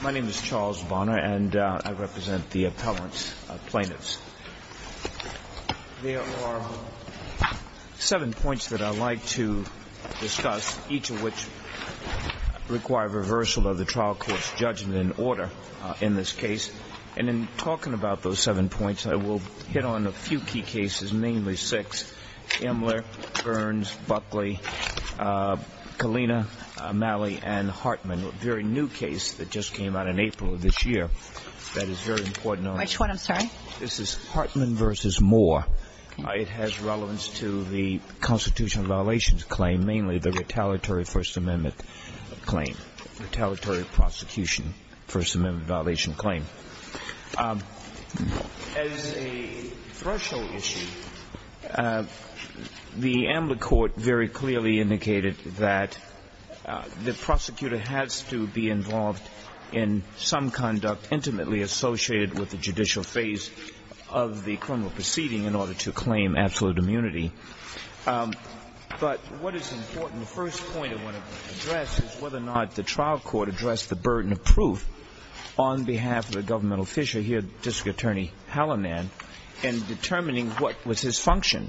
My name is Charles Bonner and I represent the appellant plaintiffs. There are seven points that I'd like to discuss, each of which require reversal of the trial court's judgment in order in this case. And in talking about those seven points, I will hit on a few key cases, mainly six, Imler, Burns, Buckley, Kalina, Malley and Hartman, a very new case that just came out in April of this year that is very important. Which one, I'm sorry? This is Hartman v. Moore. It has relevance to the constitutional violations claim, mainly the retaliatory First Amendment claim, retaliatory prosecution, First Amendment violation claim. As a threshold issue, the Imler court very clearly indicated that the prosecutor has to be involved in some conduct intimately associated with the judicial phase of the And the first point I want to address is whether or not the trial court addressed the burden of proof on behalf of the governmental official here, District Attorney Hallinan, in determining what was his function.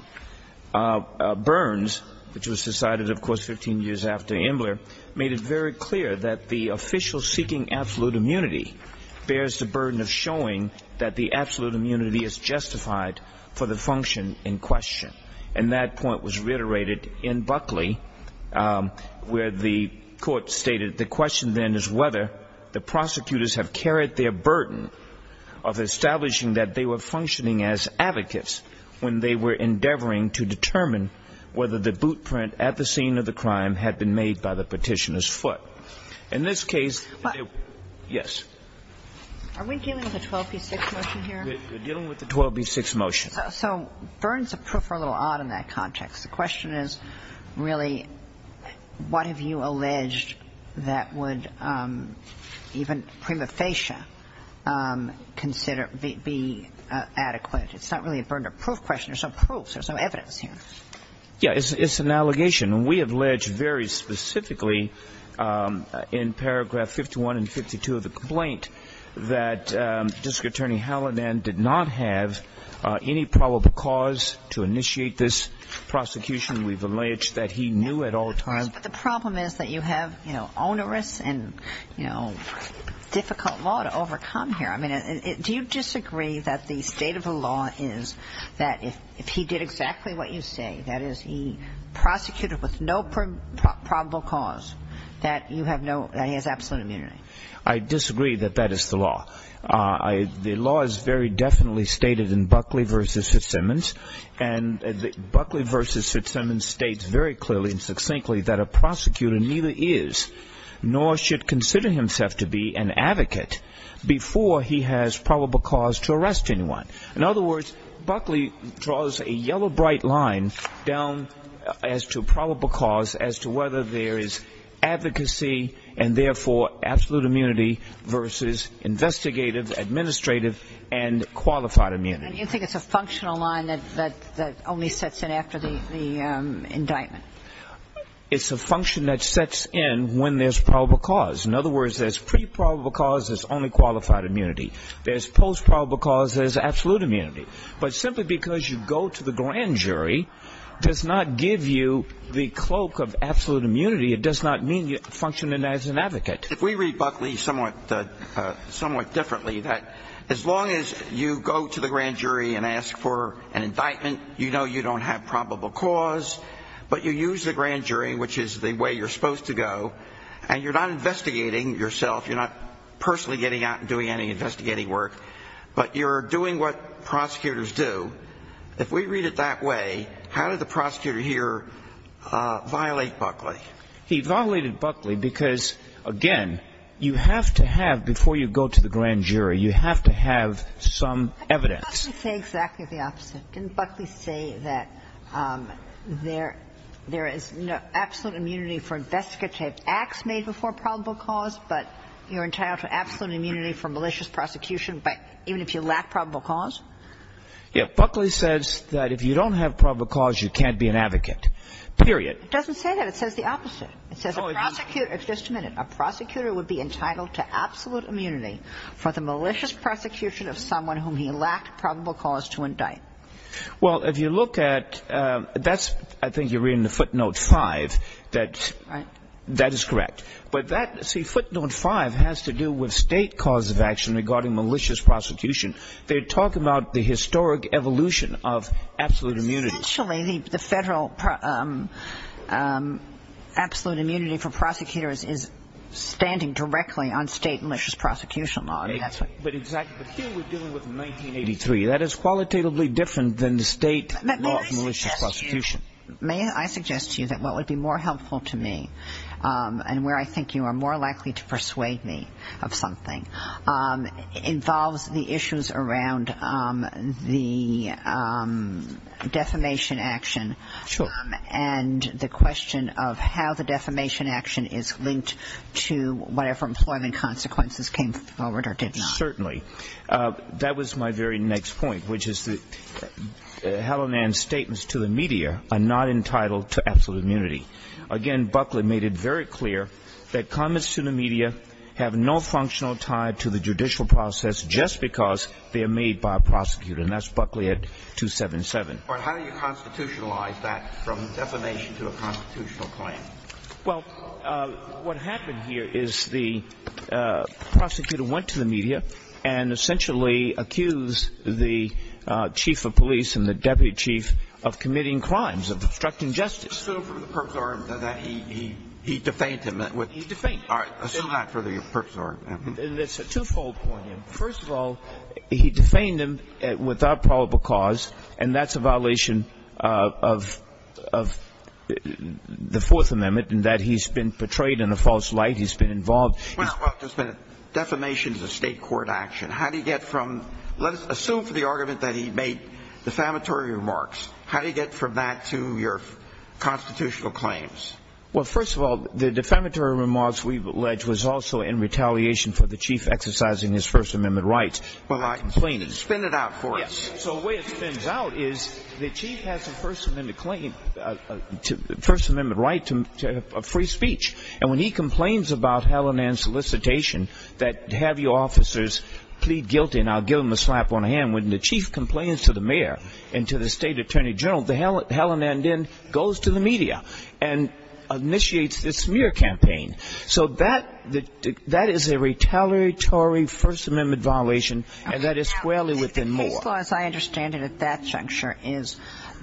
Burns, which was decided, of course, 15 years after Imler, made it very clear that the official seeking absolute immunity bears the burden of showing that the absolute immunity is justified for the function in question. And that point was reiterated in Buckley, where the court stated the question then is whether the prosecutors have carried their burden of establishing that they were functioning as advocates when they were endeavoring to determine whether the boot print at the scene of the crime had been made by the petitioner's foot. In this case, yes? Are we dealing with a 12b6 motion here? We're dealing with a 12b6 motion. So burdens of proof are a little odd in that context. The question is really, what have you alleged that would even prima facie be adequate? It's not really a burden of proof question. There's no proof. There's no evidence here. Yeah, it's an allegation. And we have alleged very specifically in paragraph 51 and 52 of the complaint that District Attorney Hallidan did not have any probable cause to initiate this prosecution. We've alleged that he knew at all times. But the problem is that you have, you know, onerous and, you know, difficult law to overcome here. I mean, do you disagree that the state of the law is that if he did exactly what you say, that is, he prosecuted with no probable cause, that you have no, that he has absolute immunity? I disagree that that is the law. The law is very definitely stated in Buckley v. Fitzsimmons. And Buckley v. Fitzsimmons states very clearly and succinctly that a prosecutor neither is nor should consider himself to be an advocate before he has probable cause to arrest anyone. In other words, Buckley draws a yellow bright line down as to probable cause as to whether there is advocacy and therefore absolute immunity versus investigative, administrative, and qualified immunity. And you think it's a functional line that only sets in after the indictment? It's a function that sets in when there's probable cause. In other words, there's pre-probable cause, there's only qualified immunity. There's post-probable cause, there's absolute immunity. But simply because you go to the grand jury does not give you the cloak of absolute immunity. It does not mean you function as an advocate. If we read Buckley somewhat differently, that as long as you go to the grand jury and ask for an indictment, you know you don't have probable cause, but you use the grand jury, which is the way you're supposed to go, and you're not investigating yourself, you're not personally getting out and doing any investigating work, but you're doing what prosecutors do. If we read it that way, how did the prosecutor here violate Buckley? He violated Buckley because, again, you have to have, before you go to the grand jury, you have to have some evidence. Didn't Buckley say exactly the opposite? Didn't Buckley say that there is absolute immunity for investigative acts made before probable cause, but you're entitled to absolute immunity for malicious prosecution even if you lack probable cause? Yeah. Buckley says that if you don't have probable cause, you can't be an advocate, period. It doesn't say that. It says the opposite. It says a prosecutor – just a minute. A prosecutor would be entitled to absolute immunity for the malicious prosecution of someone whom he lacked probable cause to indict. Well, if you look at – that's – I think you're reading the footnote 5, that that is correct. But that – see, footnote 5 has to do with state cause of action regarding malicious prosecution. They're talking about the historic evolution of absolute immunity. Essentially, the federal absolute immunity for prosecutors is standing directly on state malicious prosecution law. I mean, that's what – But exactly. But here we're dealing with 1983. That is qualitatively different than the state law of malicious prosecution. May I suggest to you that what would be more helpful to me and where I think you are more likely to persuade me of something involves the issues around the defamation action. Sure. And the question of how the defamation action is linked to whatever employment consequences came forward or did not. Certainly. That was my very next point, which is that Hallinan's statements to the media are not entitled to absolute immunity. Again, Buckley made it very clear that comments to the media have no functional tie to the judicial process just because they are made by a prosecutor. And that's Buckley at 277. But how do you constitutionalize that from defamation to a constitutional claim? Well, what happened here is the prosecutor went to the media and essentially accused the chief of police and the deputy chief of committing crimes, of obstructing justice. Assume for the purpose of argument that he defamed him. He defamed him. All right. Assume that for the purpose of argument. It's a twofold point. First of all, he defamed him without probable cause, and that's a violation of the Fourth Amendment and that he's been portrayed in a false light. He's been involved. Well, just a minute. Defamation is a state court action. How do you get from let us assume for the argument that he made defamatory remarks. How do you get from that to your constitutional claims? Well, first of all, the defamatory remarks we've alleged was also in retaliation for the chief exercising his First Amendment rights. Well, I'm complaining. Spin it out for us. So the way it spins out is the chief has a First Amendment claim, a First Amendment right to free speech. And when he complains about Helen Ann's solicitation that have your officers plead guilty and I'll give him a slap on the hand when the chief complains to the mayor and to the state attorney general, Helen Ann then goes to the media and initiates this smear campaign. So that that is a retaliatory First Amendment violation. And that is squarely within law. As I understand it, at that juncture is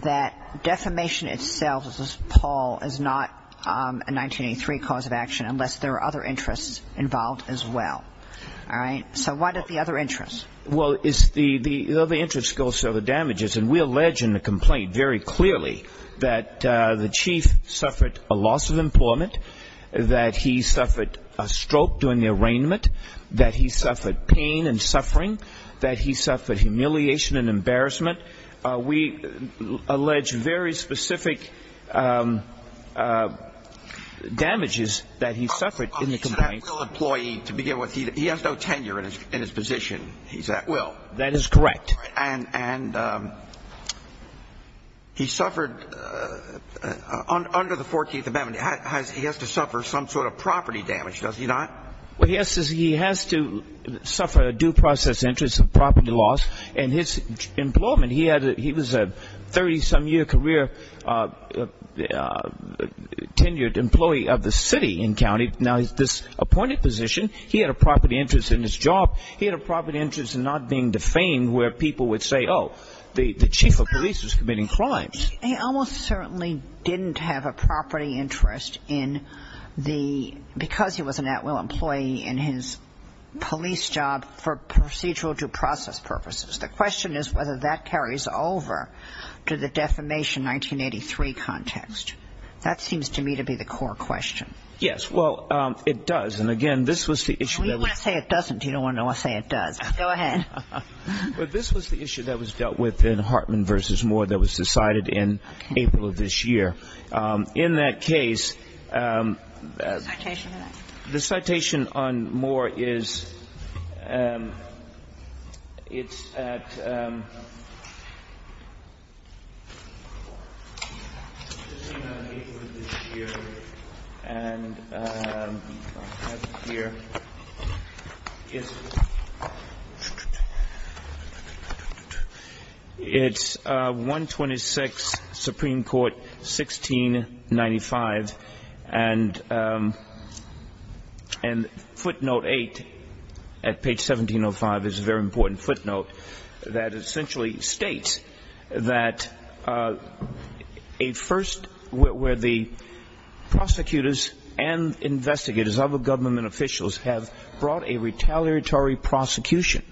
that defamation itself as Paul is not a 1983 cause of action unless there are other interests involved as well. All right. So what are the other interests? Well, it's the other interest goes to the damages. And we allege in the complaint very clearly that the chief suffered a loss of employment, that he suffered a stroke during the arraignment, that he suffered pain and suffering, that he suffered humiliation and embarrassment. We allege very specific damages that he suffered in the complaint. He's an at-will employee to begin with. He has no tenure in his position. He's at-will. That is correct. And he suffered under the 14th Amendment, he has to suffer some sort of property damage, does he not? Well, yes, he has to suffer a due process interest of property loss. And his employment, he was a 30-some-year career tenured employee of the city and county. Now, this appointed position, he had a property interest in his job. He had a property interest in not being defamed where people would say, oh, the chief of police was committing crimes. He almost certainly didn't have a property interest in the, because he was an at-will employee in his police job for procedural due process purposes. The question is whether that carries over to the defamation 1983 context. That seems to me to be the core question. Yes. Well, it does. And again, this was the issue. And we don't want to say it doesn't. You don't want to say it does. Go ahead. But this was the issue that was dealt with in Hartman v. Moore that was decided in April of this year. In that case, the citation on Moore is at April of this year, and I'll have it here. It's 126, Supreme Court, 1695, and footnote 8 at page 1705 is a very important footnote that essentially states that a first, where the prosecutors and investigators, other government officials have brought a retaliatory prosecution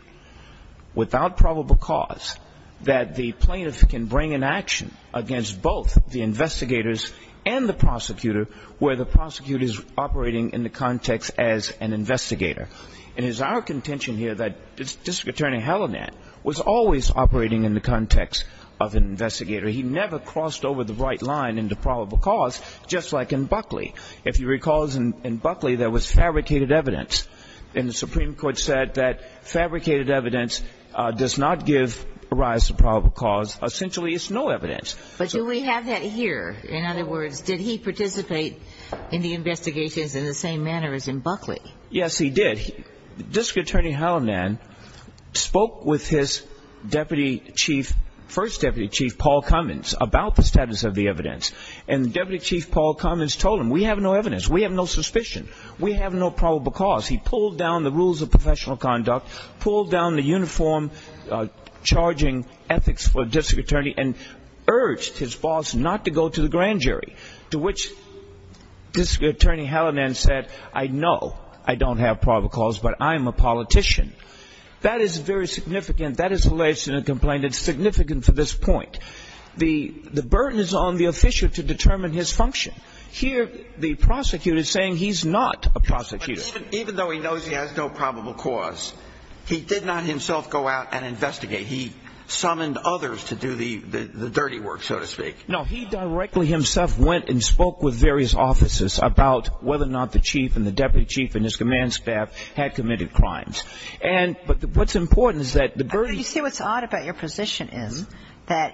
without probable cause, that the plaintiff can bring an action against both the investigators and the prosecutor where the prosecutor is operating in the context as an investigator. It is our contention here that District Attorney Hellinan was always operating in the context of an investigator. He never crossed over the right line into probable cause, just like in Buckley. If you recall, in Buckley, there was fabricated evidence, and the Supreme Court said that fabricated evidence does not give rise to probable cause. Essentially, it's no evidence. But do we have that here? In other words, did he participate in the investigations in the same manner as in Buckley? Yes, he did. District Attorney Hellinan spoke with his deputy chief, first deputy chief, Paul Cummins, about the status of the evidence. And the deputy chief, Paul Cummins, told him, we have no evidence. We have no suspicion. We have no probable cause. He pulled down the rules of professional conduct, pulled down the uniform charging ethics for a district attorney, and urged his boss not to go to the grand jury, to which District Attorney Hellinan said, I know I don't have probable cause, but I'm a politician. That is very significant. That is the latest in a complaint. It's significant for this point. The burden is on the official to determine his function. Here, the prosecutor is saying he's not a prosecutor. But even though he knows he has no probable cause, he did not himself go out and investigate. He summoned others to do the dirty work, so to speak. No. He directly himself went and spoke with various officers about whether or not the chief and the deputy chief and his command staff had committed crimes. And what's important is that the birdies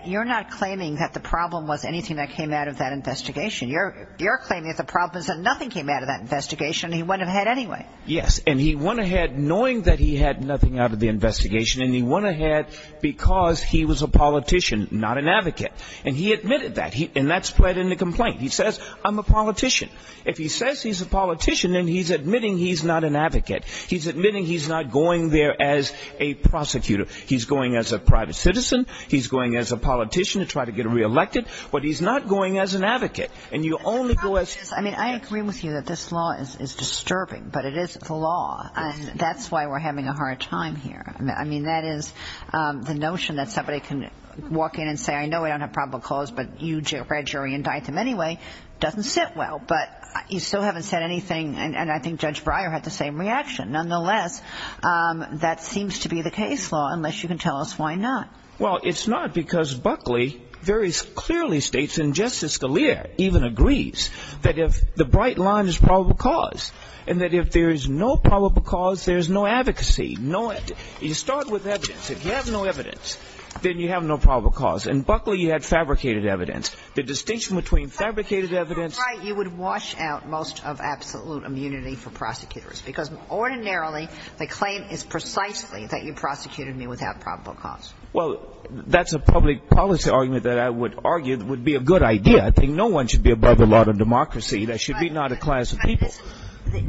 – You're not claiming that the problem was anything that came out of that investigation. You're claiming that the problem is that nothing came out of that investigation, and he went ahead anyway. Yes. And he went ahead knowing that he had nothing out of the investigation, and he went ahead because he was a politician, not an advocate. And he admitted that, and that spread in the complaint. He says, I'm a politician. If he says he's a politician, then he's admitting he's not an advocate. He's admitting he's not going there as a prosecutor. He's going as a private citizen. He's going as a politician to try to get reelected. But he's not going as an advocate. And you only go as – I mean, I agree with you that this law is disturbing, but it is the law. And that's why we're having a hard time here. I mean, that is the notion that somebody can walk in and say, I know we don't have probable cause, but you read your indictment anyway, doesn't sit well. But you still haven't said anything. And I think Judge Breyer had the same reaction. Nonetheless, that seems to be the case law, unless you can tell us why not. Well, it's not because Buckley very clearly states, and Justice Scalia even agrees, that if the bright line is probable cause, and that if there's no probable cause, there's no advocacy, no – you start with evidence. If you have no evidence, then you have no probable cause. In Buckley, you had fabricated evidence. The distinction between fabricated evidence – But if you were right, you would wash out most of absolute immunity for prosecutors. Because ordinarily, the claim is precisely that you prosecuted me without probable cause. Well, that's a public policy argument that I would argue would be a good idea. I think no one should be above the law of democracy. That should be not a class of people.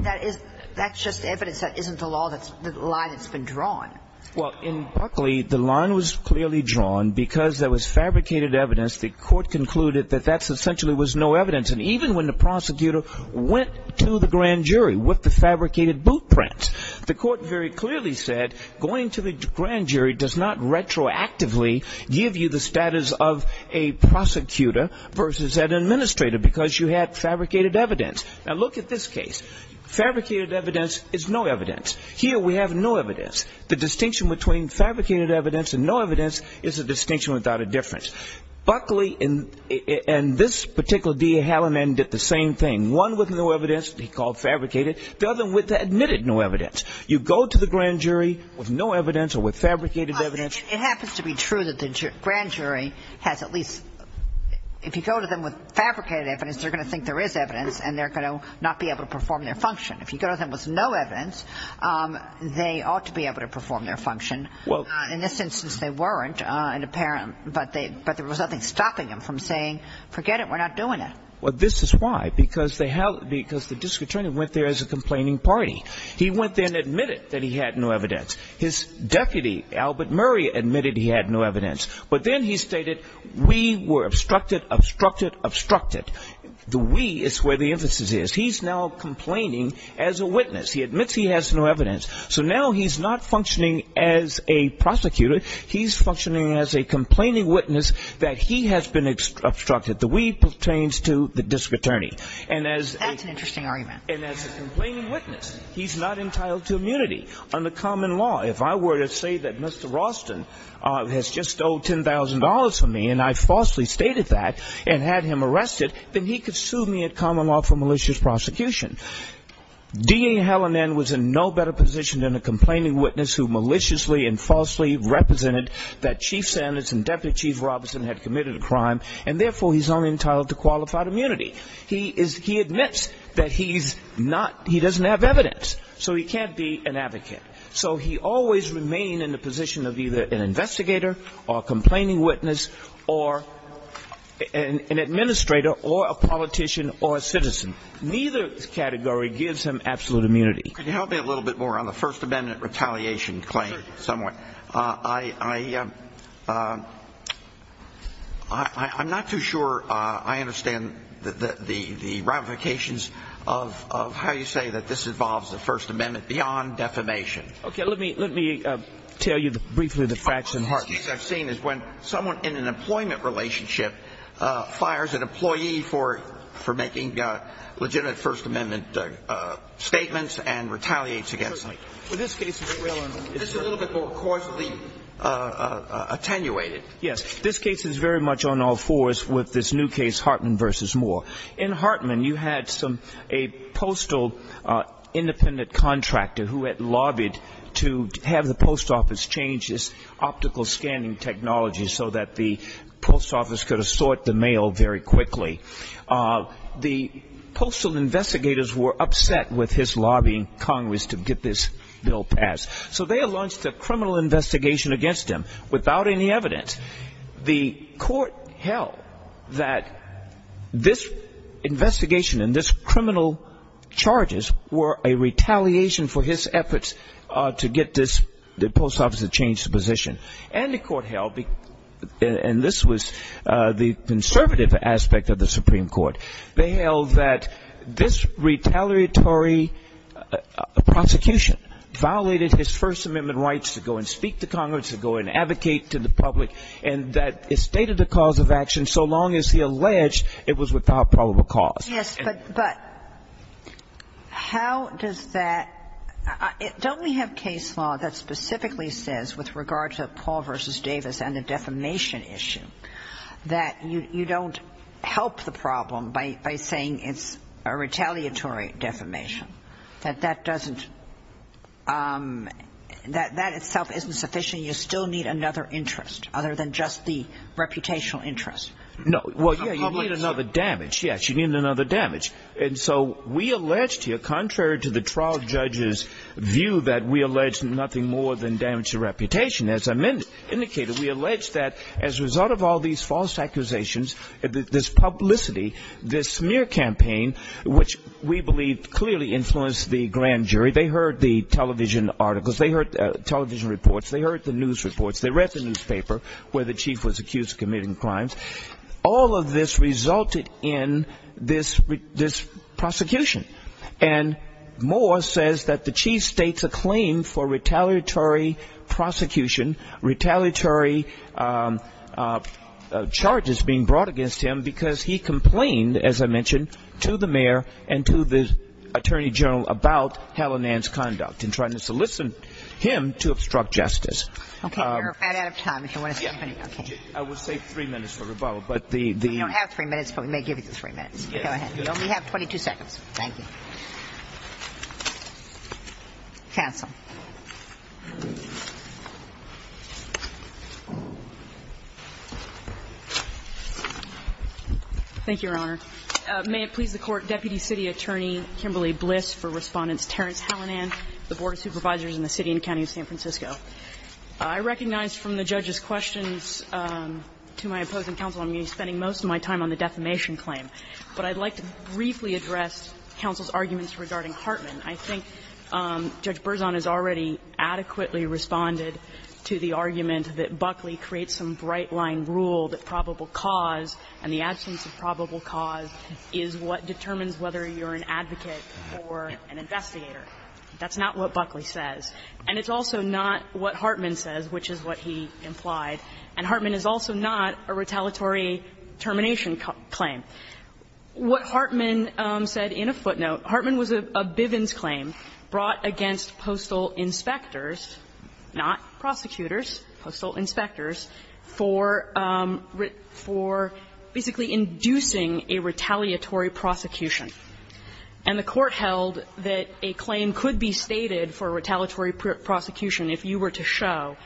That is – that's just evidence. That isn't the law that's – the line that's been drawn. Well, in Buckley, the line was clearly drawn because there was fabricated evidence. The court concluded that that essentially was no evidence. And even when the prosecutor went to the grand jury with the fabricated boot prints, the court very clearly said, going to the grand jury does not retroactively give you the status of a prosecutor versus an administrator because you had fabricated evidence. Now, look at this case. Fabricated evidence is no evidence. Here, we have no evidence. The distinction between fabricated evidence and no evidence is a distinction without a difference. Buckley and this particular DA Hallinan did the same thing. One with no evidence, he called fabricated. The other one admitted no evidence. You go to the grand jury with no evidence or with fabricated evidence. It happens to be true that the grand jury has at least – if you go to them with fabricated evidence, they're going to think there is evidence and they're going to not be able to perform their function. If you go to them with no evidence, they ought to be able to perform their function. In this instance, they weren't, but there was nothing stopping them from saying, forget it, we're not doing it. This is why, because the district attorney went there as a complaining party. He went there and admitted that he had no evidence. His deputy, Albert Murray, admitted he had no evidence. But then he stated, we were obstructed, obstructed, obstructed. The we is where the emphasis is. He's now complaining as a witness. He admits he has no evidence. So now he's not functioning as a prosecutor. He's functioning as a complaining witness that he has been obstructed. The we pertains to the district attorney. And as – That's an interesting argument. And as a complaining witness, he's not entitled to immunity under common law. If I were to say that Mr. Raulston has just owed $10,000 for me and I falsely stated that and had him arrested, then he could sue me at common law for malicious prosecution. D.A. Helen N. was in no better position than a complaining witness who maliciously and falsely represented that Chief Sanders and Deputy Chief Robertson had committed a crime and therefore he's only entitled to qualified immunity. He is – he admits that he's not – he doesn't have evidence. So he can't be an advocate. So he always remained in the position of either an investigator or a complaining witness or an administrator or a politician or a citizen. Neither category gives him absolute immunity. Could you help me a little bit more on the First Amendment retaliation claim? Sure. I – I'm not too sure I understand the ramifications of how you say that this involves the First Amendment beyond defamation. Okay. Let me – let me tell you briefly the fraction. One of the cases I've seen is when someone in an employment relationship fires an employee for making legitimate First Amendment statements and retaliates against them. This case is a little bit more causally attenuated. Yes. This case is very much on all fours with this new case, Hartman v. Moore. In Hartman, you had some – a postal independent contractor who had lobbied to have the post office change this optical scanning technology so that the post office could assort the mail very quickly. The postal investigators were upset with his lobbying Congress to get this bill passed. So they launched a criminal investigation against him without any evidence. The court held that this investigation and this criminal charges were a retaliation for his efforts to get this – the post office to change the position. And the court held, and this was the conservative aspect of the Supreme Court, they held that this retaliatory prosecution violated his First Amendment rights to go and speak to Congress, to go and advocate to the public, and that it stated a cause of action so long as he alleged it was without probable cause. Yes, but – but how does that – don't we have case law that specifically says with regard to Paul v. Davis and the defamation issue that you don't help the problem by saying it's a retaliatory defamation, that that doesn't – that that itself isn't sufficient, you still need another interest other than just the reputational interest? No. Well, you need another damage, yes. You need another damage. And so we allege here, contrary to the trial judge's view that we allege nothing more than damage to reputation, as I indicated, we allege that as a result of all these false accusations, this publicity, this smear campaign, which we believe clearly influenced the grand jury, they heard the television articles, they heard television reports, they heard the news reports, they read the newspaper where the chief was accused of committing crimes, all of this prosecution, retaliatory charges being brought against him because he complained, as I mentioned, to the mayor and to the attorney general about Hallinan's conduct and trying to solicit him to obstruct justice. Okay, we're right out of time if you want to say anything. Yeah. I will save three minutes for rebuttal, but the – We don't have three minutes, but we may give you the three minutes. Go ahead. You only have 22 seconds. Thank you. Counsel. Thank you, Your Honor. May it please the Court, Deputy City Attorney Kimberly Bliss for Respondents Terrence Hallinan, the Board of Supervisors in the City and County of San Francisco. I recognize from the judge's questions to my opposing counsel I'm going to be spending most of my time on the defamation claim. But I'd like to briefly address counsel's arguments regarding Hartman. I think Judge Berzon has already adequately responded to the argument that Buckley creates some bright-line rule that probable cause and the absence of probable cause is what determines whether you're an advocate or an investigator. That's not what Buckley says. And it's also not what Hartman says, which is what he implied. And Hartman is also not a retaliatory termination claim. What Hartman said in a footnote, Hartman was a Bivens claim brought against postal inspectors, not prosecutors, postal inspectors, for basically inducing a retaliatory prosecution. And the Court held that a claim could be stated for a retaliatory prosecution if you were to show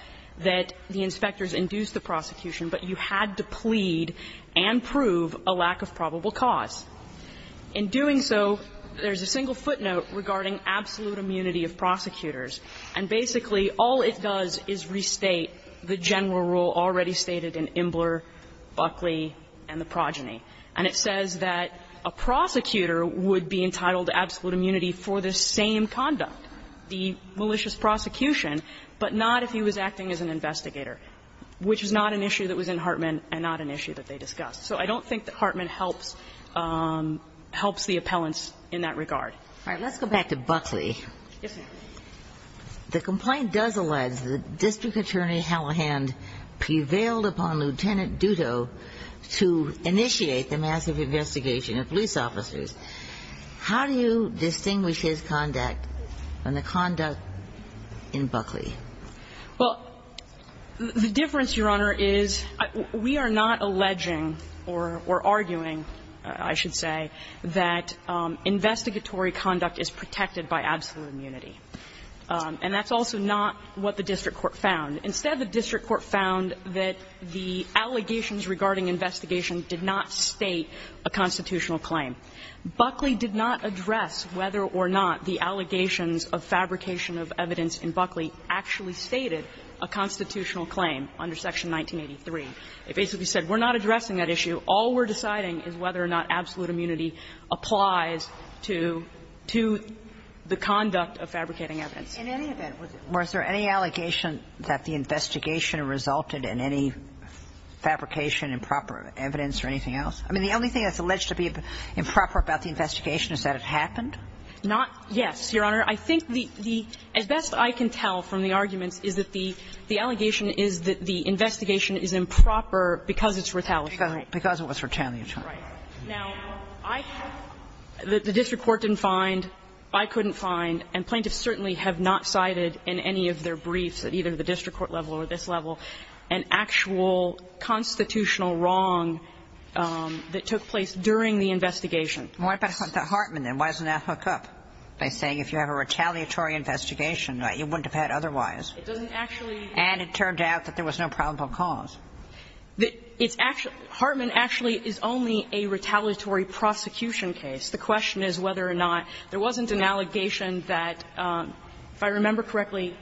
that the inspectors induced the prosecution, but you had to plead and prove a lack of probable cause. In doing so, there's a single footnote regarding absolute immunity of prosecutors. And basically, all it does is restate the general rule already stated in Imbler, Buckley, and the progeny. And it says that a prosecutor would be entitled to absolute immunity for the same conduct. The malicious prosecution, but not if he was acting as an investigator, which is not an issue that was in Hartman and not an issue that they discussed. So I don't think that Hartman helps the appellants in that regard. All right. Let's go back to Buckley. Yes, ma'am. The complaint does allege that District Attorney Hallihan prevailed upon Lieutenant Duto to initiate the massive investigation of police officers. How do you distinguish his conduct from the conduct in Buckley? Well, the difference, Your Honor, is we are not alleging or arguing, I should say, that investigatory conduct is protected by absolute immunity. And that's also not what the district court found. Instead, the district court found that the allegations regarding investigation did not state a constitutional claim. Buckley did not address whether or not the allegations of fabrication of evidence in Buckley actually stated a constitutional claim under Section 1983. It basically said, we're not addressing that issue. All we're deciding is whether or not absolute immunity applies to the conduct of fabricating evidence. In any event, was there any allegation that the investigation resulted in any fabrication, improper evidence, or anything else? I mean, the only thing that's alleged to be improper about the investigation is that it happened? Not yes, Your Honor. I think the as best I can tell from the arguments is that the allegation is that the investigation is improper because it's retaliatory. Because it was retaliatory. Right. Now, I have the district court didn't find, I couldn't find, and plaintiffs certainly have not cited in any of their briefs at either the district court level or this level, an actual constitutional wrong that took place during the investigation. What about Hartman, then? Why doesn't that hook up by saying if you have a retaliatory investigation, you wouldn't have had otherwise? It doesn't actually. And it turned out that there was no probable cause. It's actually – Hartman actually is only a retaliatory prosecution case. The question is whether or not there wasn't an allegation that, if I remember correctly,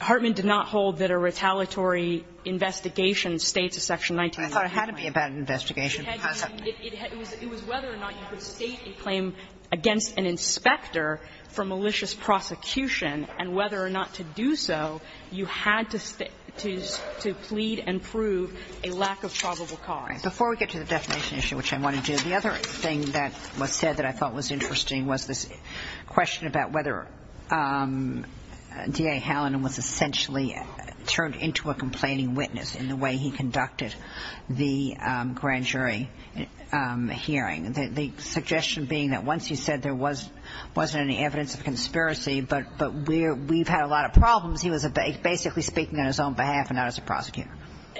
Hartman did not hold that a retaliatory investigation states a section 19 of the law. I thought it had to be about an investigation. It was whether or not you could state a claim against an inspector for malicious prosecution, and whether or not to do so, you had to plead and prove a lack of probable cause. Before we get to the definition issue, which I want to do, the other thing that was interesting was this question about whether D.A. Hallinan was essentially turned into a complaining witness in the way he conducted the grand jury hearing, the suggestion being that once he said there wasn't any evidence of conspiracy, but we've had a lot of problems, he was basically speaking on his own behalf and not as a prosecutor.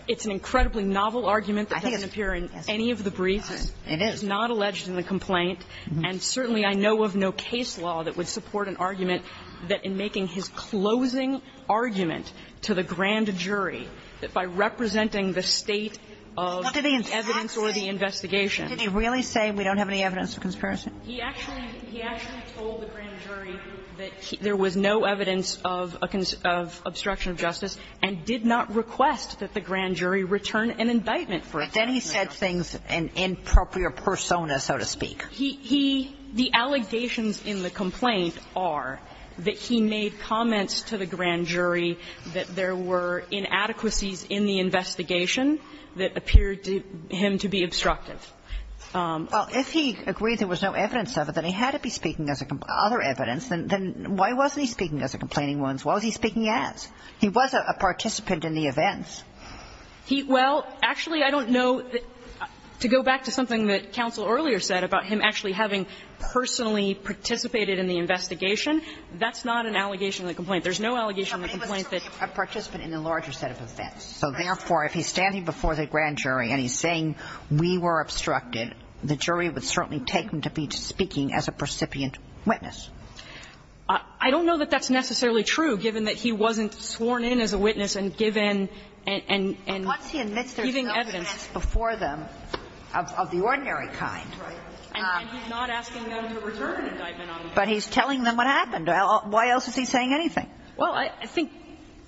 It's an incredibly novel argument that doesn't appear in any of the briefs. It is. It is not alleged in the complaint, and certainly I know of no case law that would support an argument that in making his closing argument to the grand jury, that by representing the state of evidence or the investigation he actually told the grand jury that there was no evidence of obstruction of justice and did not request that he said things in an inappropriate persona, so to speak. He he the allegations in the complaint are that he made comments to the grand jury that there were inadequacies in the investigation that appeared to him to be obstructive. Well, if he agreed there was no evidence of it, then he had to be speaking as a other evidence. Then why wasn't he speaking as a complaining witness? What was he speaking as? He was a participant in the events. Well, actually, I don't know that to go back to something that counsel earlier said about him actually having personally participated in the investigation, that's not an allegation in the complaint. There's no allegation in the complaint that he was a participant in a larger set of events. So therefore, if he's standing before the grand jury and he's saying we were obstructed, the jury would certainly take him to be speaking as a precipitant witness. I don't know that that's necessarily true, given that he wasn't sworn in as a witness and given and and and. And what's he admits there's no evidence before them of the ordinary kind. Right. And he's not asking them to return indictment on him. But he's telling them what happened. Why else is he saying anything? Well, I think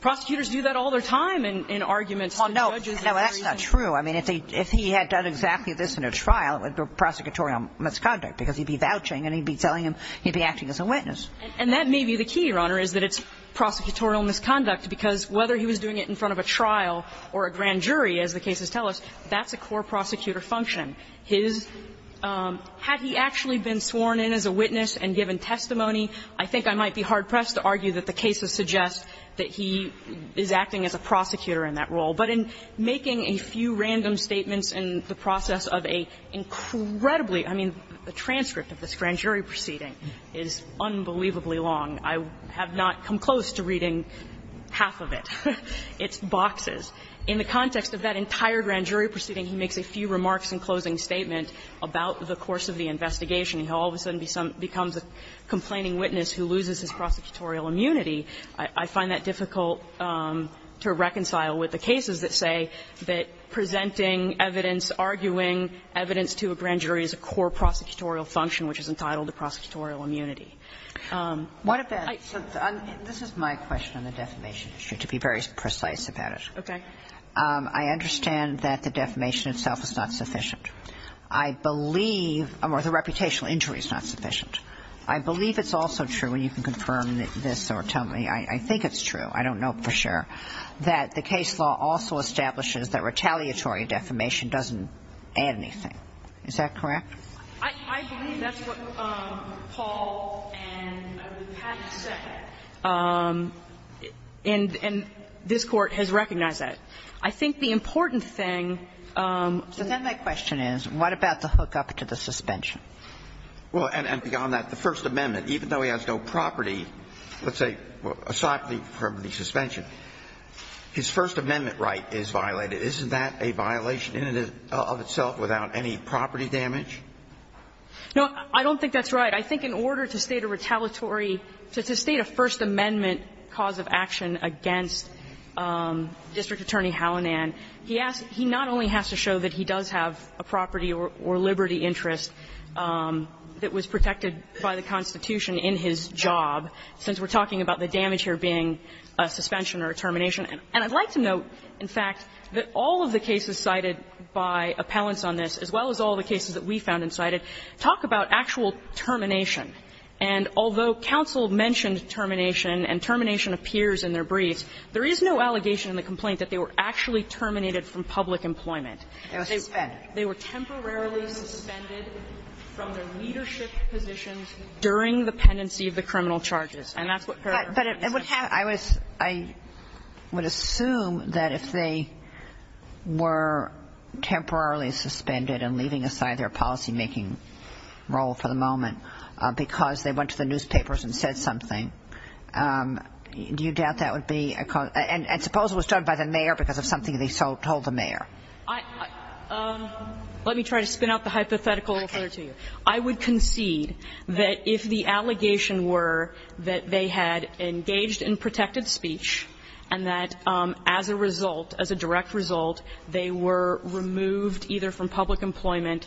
prosecutors do that all their time in arguments on judges and jury. No, that's not true. I mean, if he had done exactly this in a trial, it would be prosecutorial misconduct, because he'd be vouching and he'd be telling him he'd be acting as a witness. And that may be the key, Your Honor, is that it's prosecutorial misconduct, because whether he was doing it in front of a trial or a grand jury, as the cases tell us, that's a core prosecutor function. His – had he actually been sworn in as a witness and given testimony, I think I might be hard-pressed to argue that the cases suggest that he is acting as a prosecutor in that role. But in making a few random statements in the process of a incredibly – I mean, the transcript of this grand jury proceeding is unbelievably long. I have not come close to reading half of it. It's boxes. In the context of that entire grand jury proceeding, he makes a few remarks in closing statement about the course of the investigation. He all of a sudden becomes a complaining witness who loses his prosecutorial immunity. I find that difficult to reconcile with the cases that say that presenting evidence, arguing evidence to a grand jury is a core prosecutorial function, which is entitled to prosecutorial immunity. What if that – this is my question on the defamation issue, to be very precise about it. Okay. I understand that the defamation itself is not sufficient. I believe – or the reputational injury is not sufficient. I believe it's also true, and you can confirm this or tell me, I think it's true, I don't know for sure, that the case law also establishes that retaliatory defamation doesn't add anything. Is that correct? I believe that's what Paul and Pat said, and this Court has recognized that. I think the important thing to me – Then my question is, what about the hookup to the suspension? Well, and beyond that, the First Amendment, even though he has no property, let's say, aside from the suspension, his First Amendment right is violated. Isn't that a violation in and of itself without any property damage? No, I don't think that's right. I think in order to state a retaliatory – to state a First Amendment cause of action against District Attorney Hallinan, he asked – he not only has to show that he does have a property or liberty interest that was protected by the Constitution in his job, since we're talking about the damage here being a suspension or a termination. And I'd like to note, in fact, that all of the cases cited by appellants on this, as well as all of the cases that we found and cited, talk about actual termination. And although counsel mentioned termination and termination appears in their briefs, there is no allegation in the complaint that they were actually terminated from public employment. They were temporarily suspended from their leadership positions during the pendency And that's what her question is. I was – I would assume that if they were temporarily suspended and leaving aside their policymaking role for the moment because they went to the newspapers and said something, do you doubt that would be a – and suppose it was done by the mayor because of something they told the mayor? Let me try to spin out the hypothetical a little further to you. I would concede that if the allegation were that they had engaged in protected speech and that as a result, as a direct result, they were removed either from public employment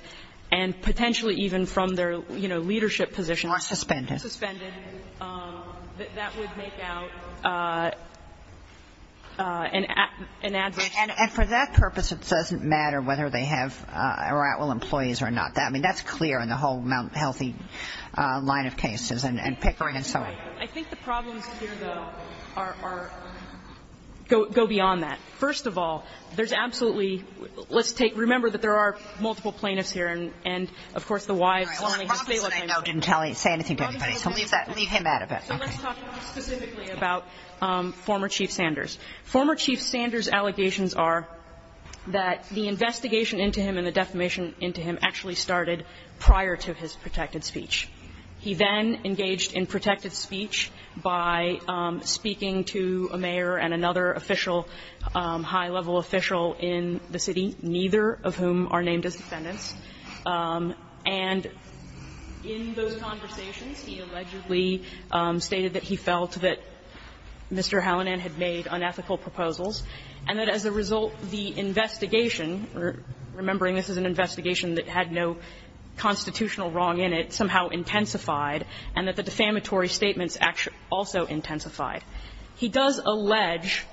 and potentially even from their, you know, leadership positions. Or suspended. Suspended. That would make out an adverse effect. And for that purpose, it doesn't matter whether they have or are at-will employees or not. I mean, that's clear in the whole Mount Healthy line of cases and Pickering and so on. I think the problems here, though, are – go beyond that. First of all, there's absolutely – let's take – remember that there are multiple plaintiffs here and, of course, the wives only. All right, well, Robinson, I know, didn't say anything to anybody. So leave that – leave him out of it. So let's talk specifically about former Chief Sanders. Former Chief Sanders' allegations are that the investigation into him and the defamation into him actually started prior to his protected speech. He then engaged in protected speech by speaking to a mayor and another official, high-level official in the city, neither of whom are named as defendants. And in those conversations, he allegedly stated that he felt that Mr. Hallinan had made unethical proposals and that as a result, the investigation – remembering this is an investigation that had no constitutional wrong in it – somehow intensified and that the defamatory statements also intensified. He does allege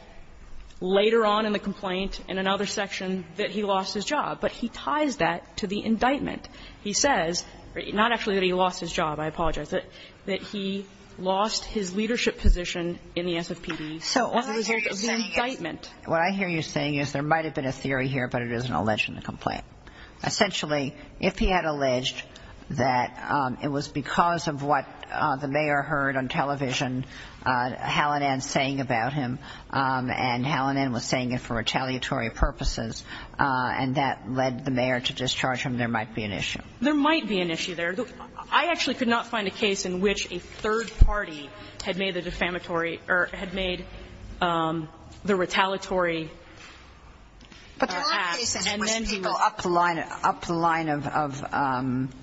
later on in the complaint in another section that he lost his job, but he ties that to the indictment. He says – not actually that he lost his job, I apologize – that he lost his leadership position in the SFPD as a result of the indictment. So what I hear you saying is there might have been a theory here, but it is an alleged complaint. Essentially, if he had alleged that it was because of what the mayor heard on television, Hallinan saying about him, and Hallinan was saying it for retaliatory purposes, and that led the mayor to discharge him, there might be an issue. There might be an issue there. I actually could not find a case in which a third party had made the defamatory – or had made the retaliatory act. And then he would go up the line of – up the line of,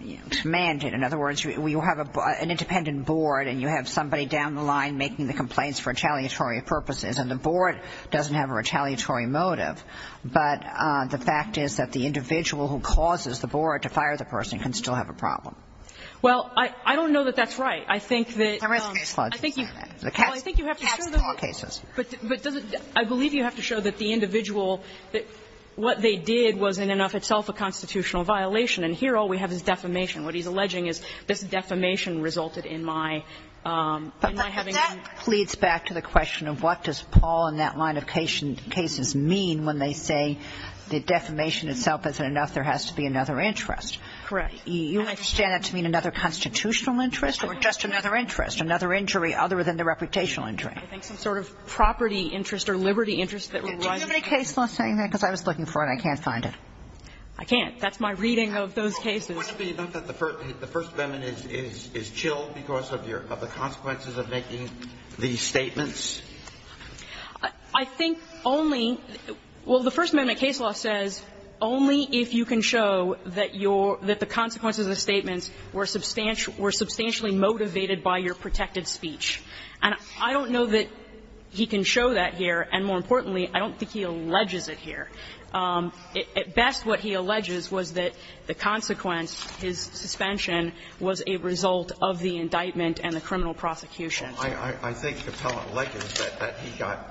you know, command it. In other words, you have an independent board and you have somebody down the line making the complaints for retaliatory purposes, and the board doesn't have a retaliatory motive. But the fact is that the individual who causes the board to fire the person can still have a problem. Well, I don't know that that's right. I think that you have to show the court cases. But does it – I believe you have to show that the individual – that what they did was in and of itself a constitutional violation. And here all we have is defamation. What he's alleging is this defamation resulted in my – in my having been – But that leads back to the question of what does Paul and that line of cases mean when they say the defamation itself isn't enough, there has to be another interest. Correct. You understand that to mean another constitutional interest or just another interest, another injury other than the reputational injury? I think some sort of property interest or liberty interest that relies on the case. Do you have any case law saying that? Because I was looking for it and I can't find it. I can't. That's my reading of those cases. Would it be enough that the First Amendment is chilled because of your – of the consequences of making these statements? I think only – well, the First Amendment case law says only if you can show that your – that the consequences of the statements were substantially – were substantially motivated by your protected speech. And I don't know that he can show that here, and more importantly, I don't think he alleges it here. At best, what he alleges was that the consequence, his suspension, was a result of the indictment and the criminal prosecution. I think the appellant alleges that he got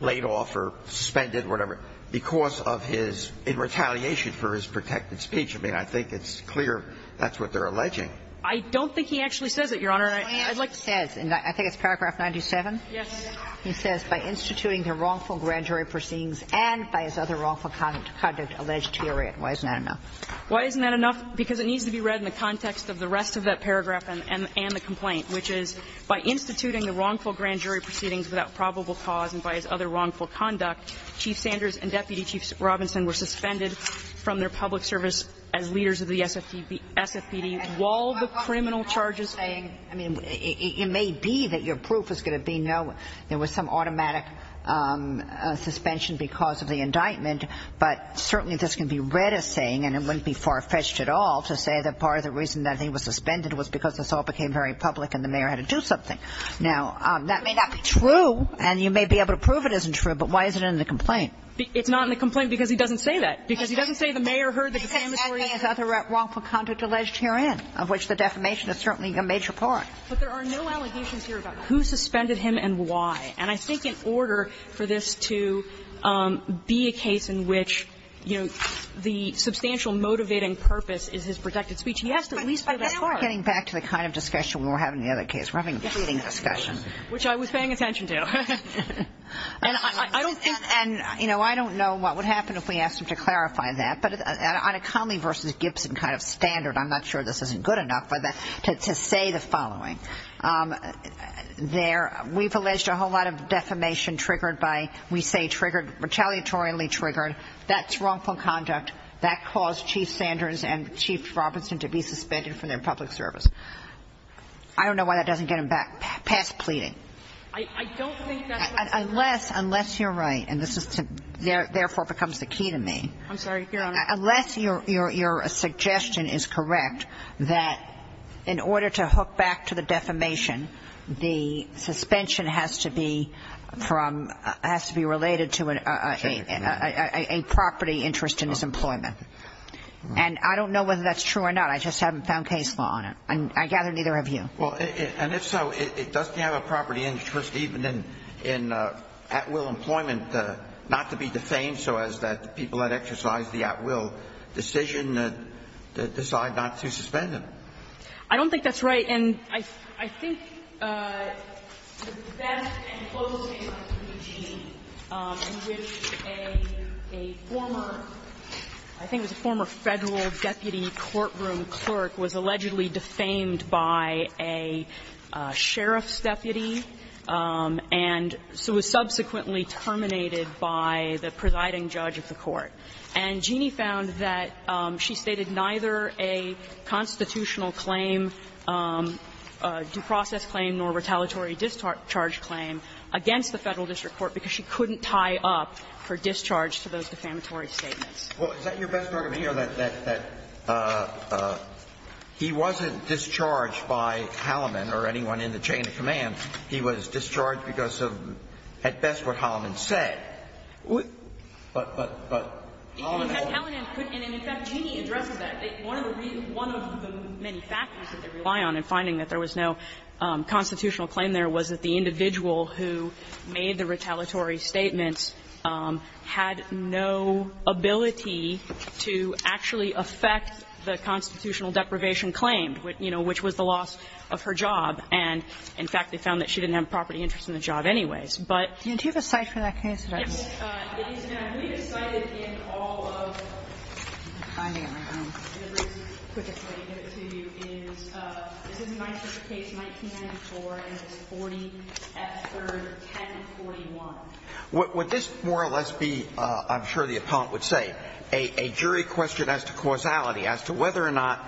laid off or suspended, whatever, because of his – in retaliation for his protected speech. I mean, I think it's clear that's what they're alleging. I don't think he actually says it, Your Honor. I'd like to say – I think it's paragraph 97? Yes. He says, by instituting the wrongful grand jury proceedings and by his other wrongful conduct alleged to your right. Why isn't that enough? Why isn't that enough? Because it needs to be read in the context of the rest of that paragraph and the complaint, which is by instituting the wrongful grand jury proceedings without probable cause and by his other wrongful conduct, Chief Sanders and Deputy Chief Robinson were suspended from their public service as leaders of the SFPD while the criminal charges – I mean, it may be that your proof is going to be no – there was some automatic suspension because of the indictment, but certainly this can be read as saying, and it wouldn't be far-fetched at all to say that part of the reason that he was suspended was because this all became very public and the mayor had to do something. Now, that may not be true, and you may be able to prove it isn't true, but why is it in the complaint? It's not in the complaint because he doesn't say that, because he doesn't say the mayor heard the defamatory and other wrongful conduct alleged herein, of which the defamation is certainly a major part. But there are no allegations here about who suspended him and why. And I think in order for this to be a case in which, you know, the substantial motivating purpose is his protected speech, he has to at least do that part. But now we're getting back to the kind of discussion we were having in the other case. We're having a pleading discussion. Which I was paying attention to. And I don't think – And, you know, I don't know what would happen if we asked him to clarify that, but on a Conley v. Gibson kind of standard, I'm not sure this isn't good enough, but to say the following. There – we've alleged a whole lot of defamation triggered by – we say triggered, retaliatorily triggered. That's wrongful conduct. That caused Chief Sanders and Chief Robertson to be suspended from their public service. I don't know why that doesn't get him back past pleading. I don't think that's what's going to happen. Unless – unless you're right, and this is to – therefore becomes the key to me. I'm sorry, Your Honor. Unless your suggestion is correct that in order to hook back to the defamation, the suspension has to be from – has to be related to a property interest in his employment. And I don't know whether that's true or not. I just haven't found case law on it. And I gather neither have you. Well, and if so, it doesn't have a property interest even in at-will employment, not to be defamed so as that people that exercise the at-will decision that decide not to suspend him. I don't think that's right. And I think the best and closest case I can think of in which a former – I think it was a former Federal deputy courtroom clerk was allegedly defamed by a sheriff's and so was subsequently terminated by the presiding judge of the court. And Jeanne found that she stated neither a constitutional claim, due process claim nor retaliatory discharge claim against the Federal district court because she couldn't tie up her discharge to those defamatory statements. Well, is that your best argument here, that he wasn't discharged by Halliman or anyone in the chain of command? He was discharged because of, at best, what Halliman said. But Halliman wasn't. And in fact, Jeanne addresses that. One of the many factors that they rely on in finding that there was no constitutional claim there was that the individual who made the retaliatory statements had no ability to actually affect the constitutional deprivation claim, you know, which was the loss of her job. And in fact, they found that she didn't have a property interest in the job anyways. But – Do you have a cite for that case? It is, ma'am. We have cited in all of the briefs, which I'm going to give it to you, is this is my first case, 1994, and it's 40 F. 3rd, 1041. Would this more or less be, I'm sure the appellant would say, a jury question as to causality, as to whether or not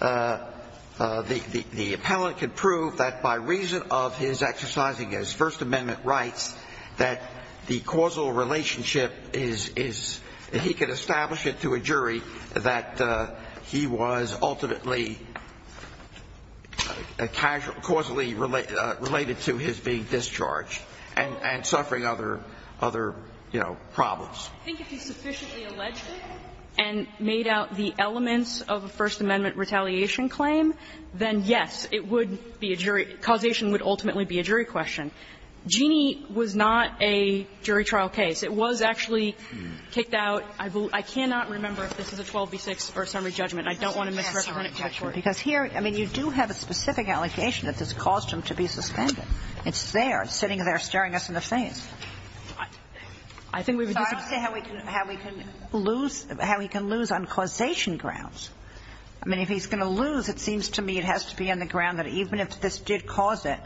the appellant could prove that by reason of his exercising his First Amendment rights, that the causal relationship is – that he could establish it to a jury that he was ultimately causally related to his being discharged and suffering other, you know, problems. I think if he sufficiently alleged it and made out the elements of a First Amendment retaliation claim, then yes, it would be a jury – causation would ultimately be a jury question. Genie was not a jury trial case. It was actually kicked out. I cannot remember if this is a 12 v. 6 or a summary judgment. I don't want to misrepresent it, Judge Ward. Because here, I mean, you do have a specific allegation that this caused him to be suspended. It's there, sitting there, staring us in the face. I think we would disagree. I would say how he can lose – how he can lose on causation grounds. I mean, if he's going to lose, it seems to me it has to be on the ground that even if this did cause it,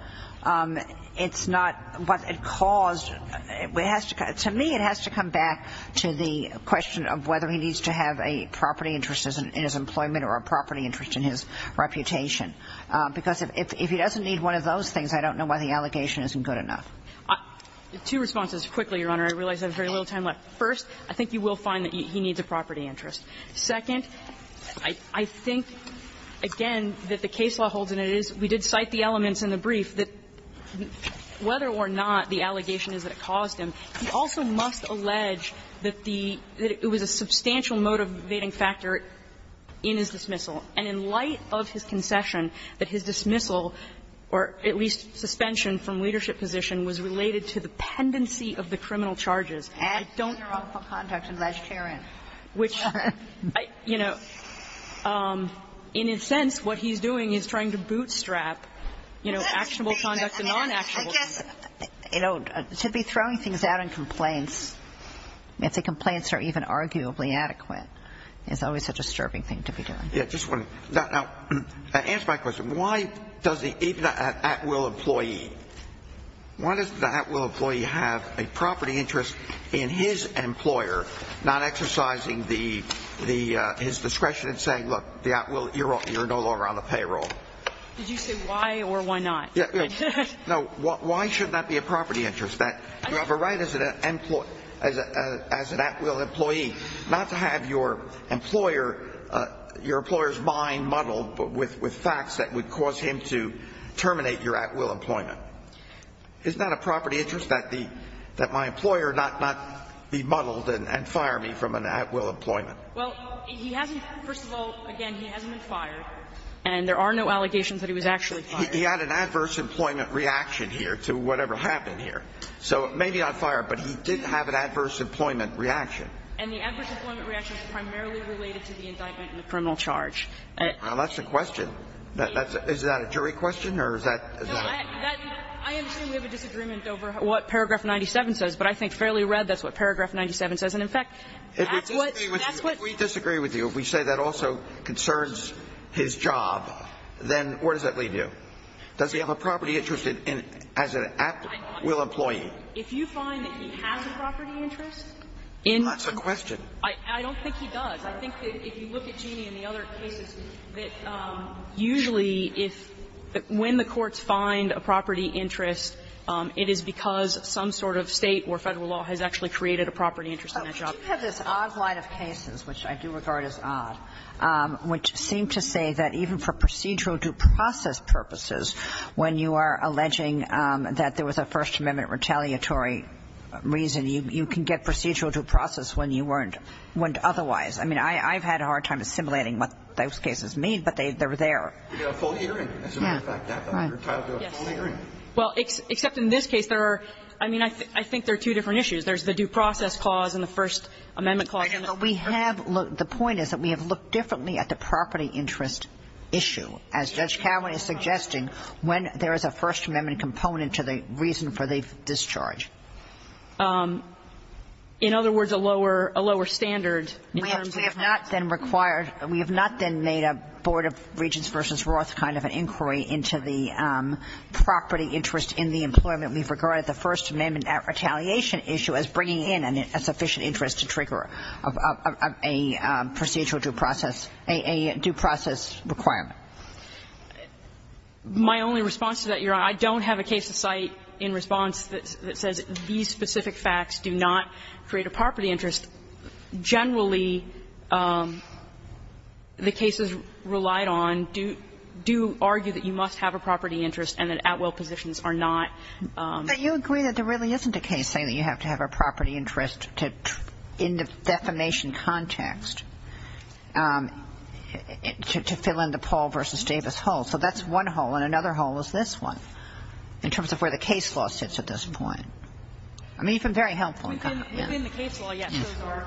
it's not what it caused – it has to – to me, it has to come back to the question of whether he needs to have a property interest in his employment or a property interest in his reputation. Because if he doesn't need one of those things, I don't know why the allegation isn't good enough. Two responses quickly, Your Honor. I realize I have very little time left. First, I think you will find that he needs a property interest. Second, I think, again, that the case law holds, and it is – we did cite the elements in the brief that whether or not the allegation is that it caused him, he also must allege that the – that it was a substantial motivating factor in his dismissal. And in light of his concession, that his dismissal, or at least suspension from leadership position, was related to the pendency of the criminal charges. And I don't – Actual or unlawful conduct in vegetarian. Which, you know, in a sense, what he's doing is trying to bootstrap, you know, actionable conduct and non-actionable conduct. I guess, you know, to be throwing things out in complaints, if the complaints are even arguably adequate, is always a disturbing thing to be doing. Yeah, just one. Now, answer my question. Why does the – even an at-will employee, why does the at-will employee have a property interest in his employer not exercising the – his discretion in saying, look, the at-will – you're no longer on the payroll? Did you say why or why not? Yeah, yeah. No, why should that be a property interest, that you have a right as an at-will employee not to have your employer – your employer's mind muddled with facts that would cause him to terminate your at-will employment? Isn't that a property interest, that the – that my employer not be muddled and fire me from an at-will employment? Well, he hasn't – first of all, again, he hasn't been fired, and there are no allegations that he was actually fired. He had an adverse employment reaction here to whatever happened here. So maybe not fired, but he did have an adverse employment reaction. And the adverse employment reaction is primarily related to the indictment and the criminal charge. That's the question. Is that a jury question, or is that – No, I am saying we have a disagreement over what paragraph 97 says, but I think fairly read that's what paragraph 97 says. And in fact, that's what – that's what – If we disagree with you, if we say that also concerns his job, then where does that leave you? Does he have a property interest in – as an at-will employee? If you find that he has a property interest in – Well, that's a question. I don't think he does. I think that if you look at Jeannie and the other cases, that usually if – when the courts find a property interest, it is because some sort of State or Federal law has actually created a property interest in a job. You have this odd line of cases, which I do regard as odd, which seem to say that even for procedural due process purposes, when you are alleging that there was a First Amendment retaliatory reason, you can get procedural due process when you weren't – otherwise. I mean, I've had a hard time assimilating what those cases mean, but they're there. You get a full hearing, as a matter of fact. You're entitled to a full hearing. Well, except in this case, there are – I mean, I think there are two different issues. There's the due process clause and the First Amendment clause. We have – the point is that we have looked differently at the property interest issue. As Judge Cowan is suggesting, when there is a First Amendment component to the reason for the discharge. In other words, a lower – a lower standard in terms of the property interest. We have not then required – we have not then made a Board of Regents v. Roth kind of an inquiry into the property interest in the employment we've regarded the First Amendment retaliation issue as bringing in a sufficient interest to trigger a procedural due process – a due process requirement. My only response to that, Your Honor, I don't have a case to cite in response that says these specific facts do not create a property interest. Generally, the cases relied on do – do argue that you must have a property interest and that at-will positions are not. But you agree that there really isn't a case saying that you have to have a property interest to – in the defamation context to fill in the Paul v. Davis hole. So that's one hole. And another hole is this one in terms of where the case law sits at this point. I mean, you've been very helpful. MS. GOTTLIEB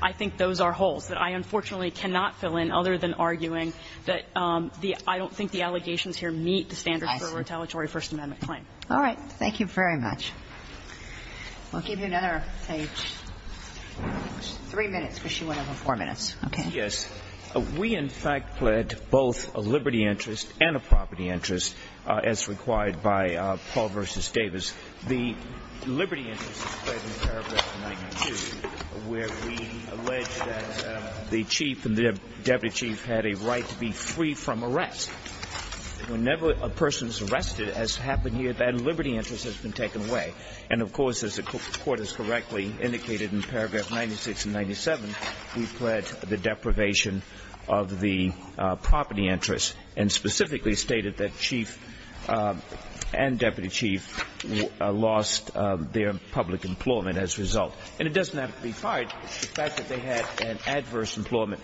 I think those are holes that I, unfortunately, cannot fill in other than arguing that the – I don't think the allegations here meet the standards for a retaliatory First Amendment claim. MS. KAYER All right. Thank you very much. We'll give you another, say, three minutes, because she went over four minutes. Okay. GOLDSTEIN Yes. We, in fact, pled both a liberty interest and a property interest, as required by Paul v. Davis. The liberty interest is pled in paragraph 92, where we allege that the chief and the deputy chief had a right to be free from arrest. Whenever a person is arrested, as happened here, that liberty interest has been taken away. And, of course, as the Court has correctly indicated in paragraph 96 and 97, we pled the deprivation of the property interest and specifically stated that chief and deputy chief lost their public employment as a result. And it doesn't have to be fired. The fact that they had an adverse employment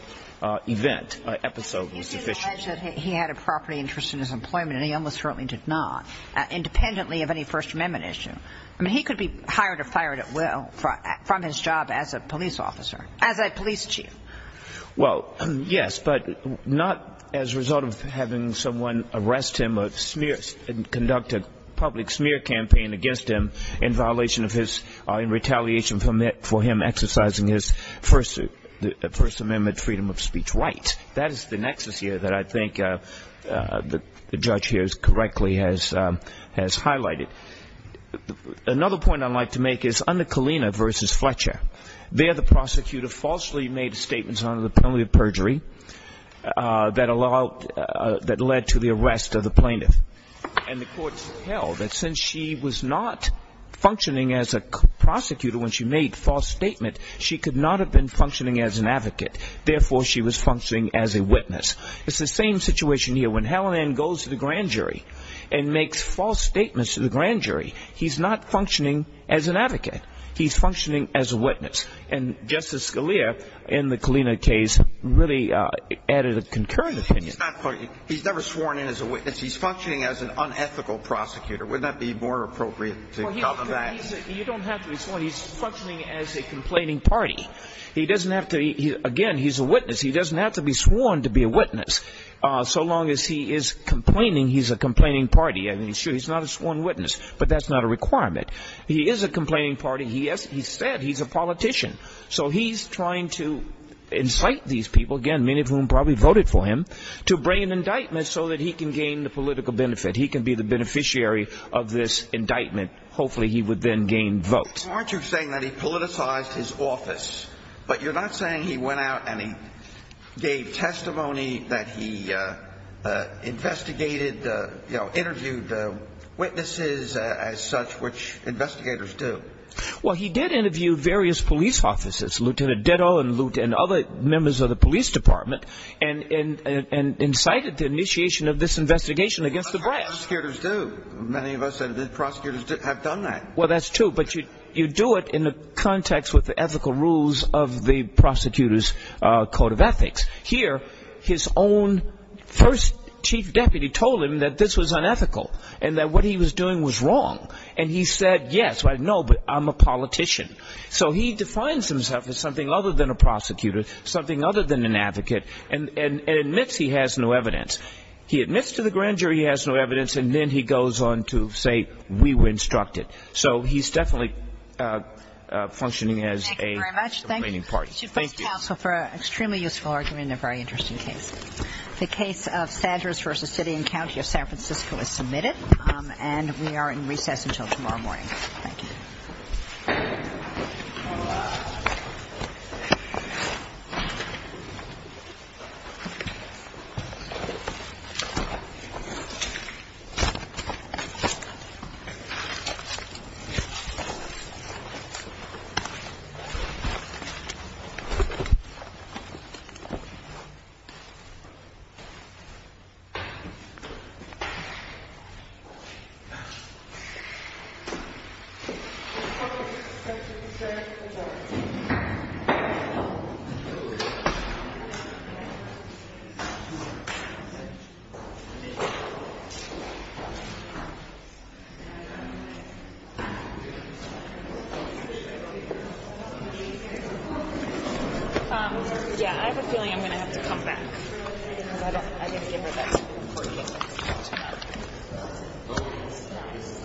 event, episode, was sufficient. MS. GOTTLIEB He alleged that he had a property interest in his employment, and he almost certainly did not. Independently of any First Amendment issue, I mean, he could be hired or fired at will from his job as a police officer, as a police chief. CHIEF JUSTICE ROBERTS Well, yes, but not as a result of having someone arrest him or conduct a public smear campaign against him in violation of his or in retaliation for him exercising his First Amendment freedom of speech right. That is the nexus here that I think the judge here correctly has highlighted. Another point I'd like to make is under Kalina v. Fletcher. There, the prosecutor falsely made statements under the penalty of perjury that led to the arrest of the plaintiff. And the Court held that since she was not functioning as a prosecutor when she made a false statement, she could not have been functioning as an advocate. Therefore, she was functioning as a witness. It's the same situation here. When Hellman goes to the grand jury and makes false statements to the grand jury, he's not functioning as an advocate. He's functioning as a witness. And Justice Scalia, in the Kalina case, really added a concurrent opinion. GOTTLIEB He's never sworn in as a witness. He's functioning as an unethical prosecutor. Wouldn't that be more appropriate to call him that? CHIEF JUSTICE ROBERTS You don't have to respond. He's functioning as a complaining party. He doesn't have to, again, he's a witness. He doesn't have to be sworn to be a witness. So long as he is complaining, he's a complaining party. I mean, sure, he's not a sworn witness, but that's not a requirement. He is a complaining party. He said he's a politician. So he's trying to incite these people, again, many of whom probably voted for him, to bring an indictment so that he can gain the political benefit. He can be the beneficiary of this indictment. Hopefully, he would then gain votes. GOTTLIEB Aren't you saying that he politicized his office? But you're not saying he went out and he gave testimony, that he investigated, you know, interviewed witnesses as such, which investigators do. CHIEF JUSTICE ROBERTS Well, he did interview various police officers, Lieutenant Ditto and other members of the police department, and incited the initiation of this investigation against the brass. GOTTLIEB That's what prosecutors do. Many of us that have been prosecutors have done that. CHIEF JUSTICE ROBERTS Well, that's true. But you do it in the context with the ethical rules of the prosecutor's code of ethics. Here, his own first chief deputy told him that this was unethical and that what he was doing was wrong. And he said, yes, I know, but I'm a politician. So he defines himself as something other than a prosecutor, something other than an advocate, and admits he has no evidence. He admits to the grand jury he has no evidence, and then he goes on to say, we were instructed. So he's definitely functioning as a complaining party. GOTTLIEB Thank you very much. Thank you, Mr. Vice Counsel, for an extremely useful argument and a very interesting case. The case of Sanders v. City and County of San Francisco is submitted, and we are in recess until tomorrow morning. Thank you. MS. GOTTLIEB I have a feeling I'm going to have to come back because I didn't give her that report to get back to me.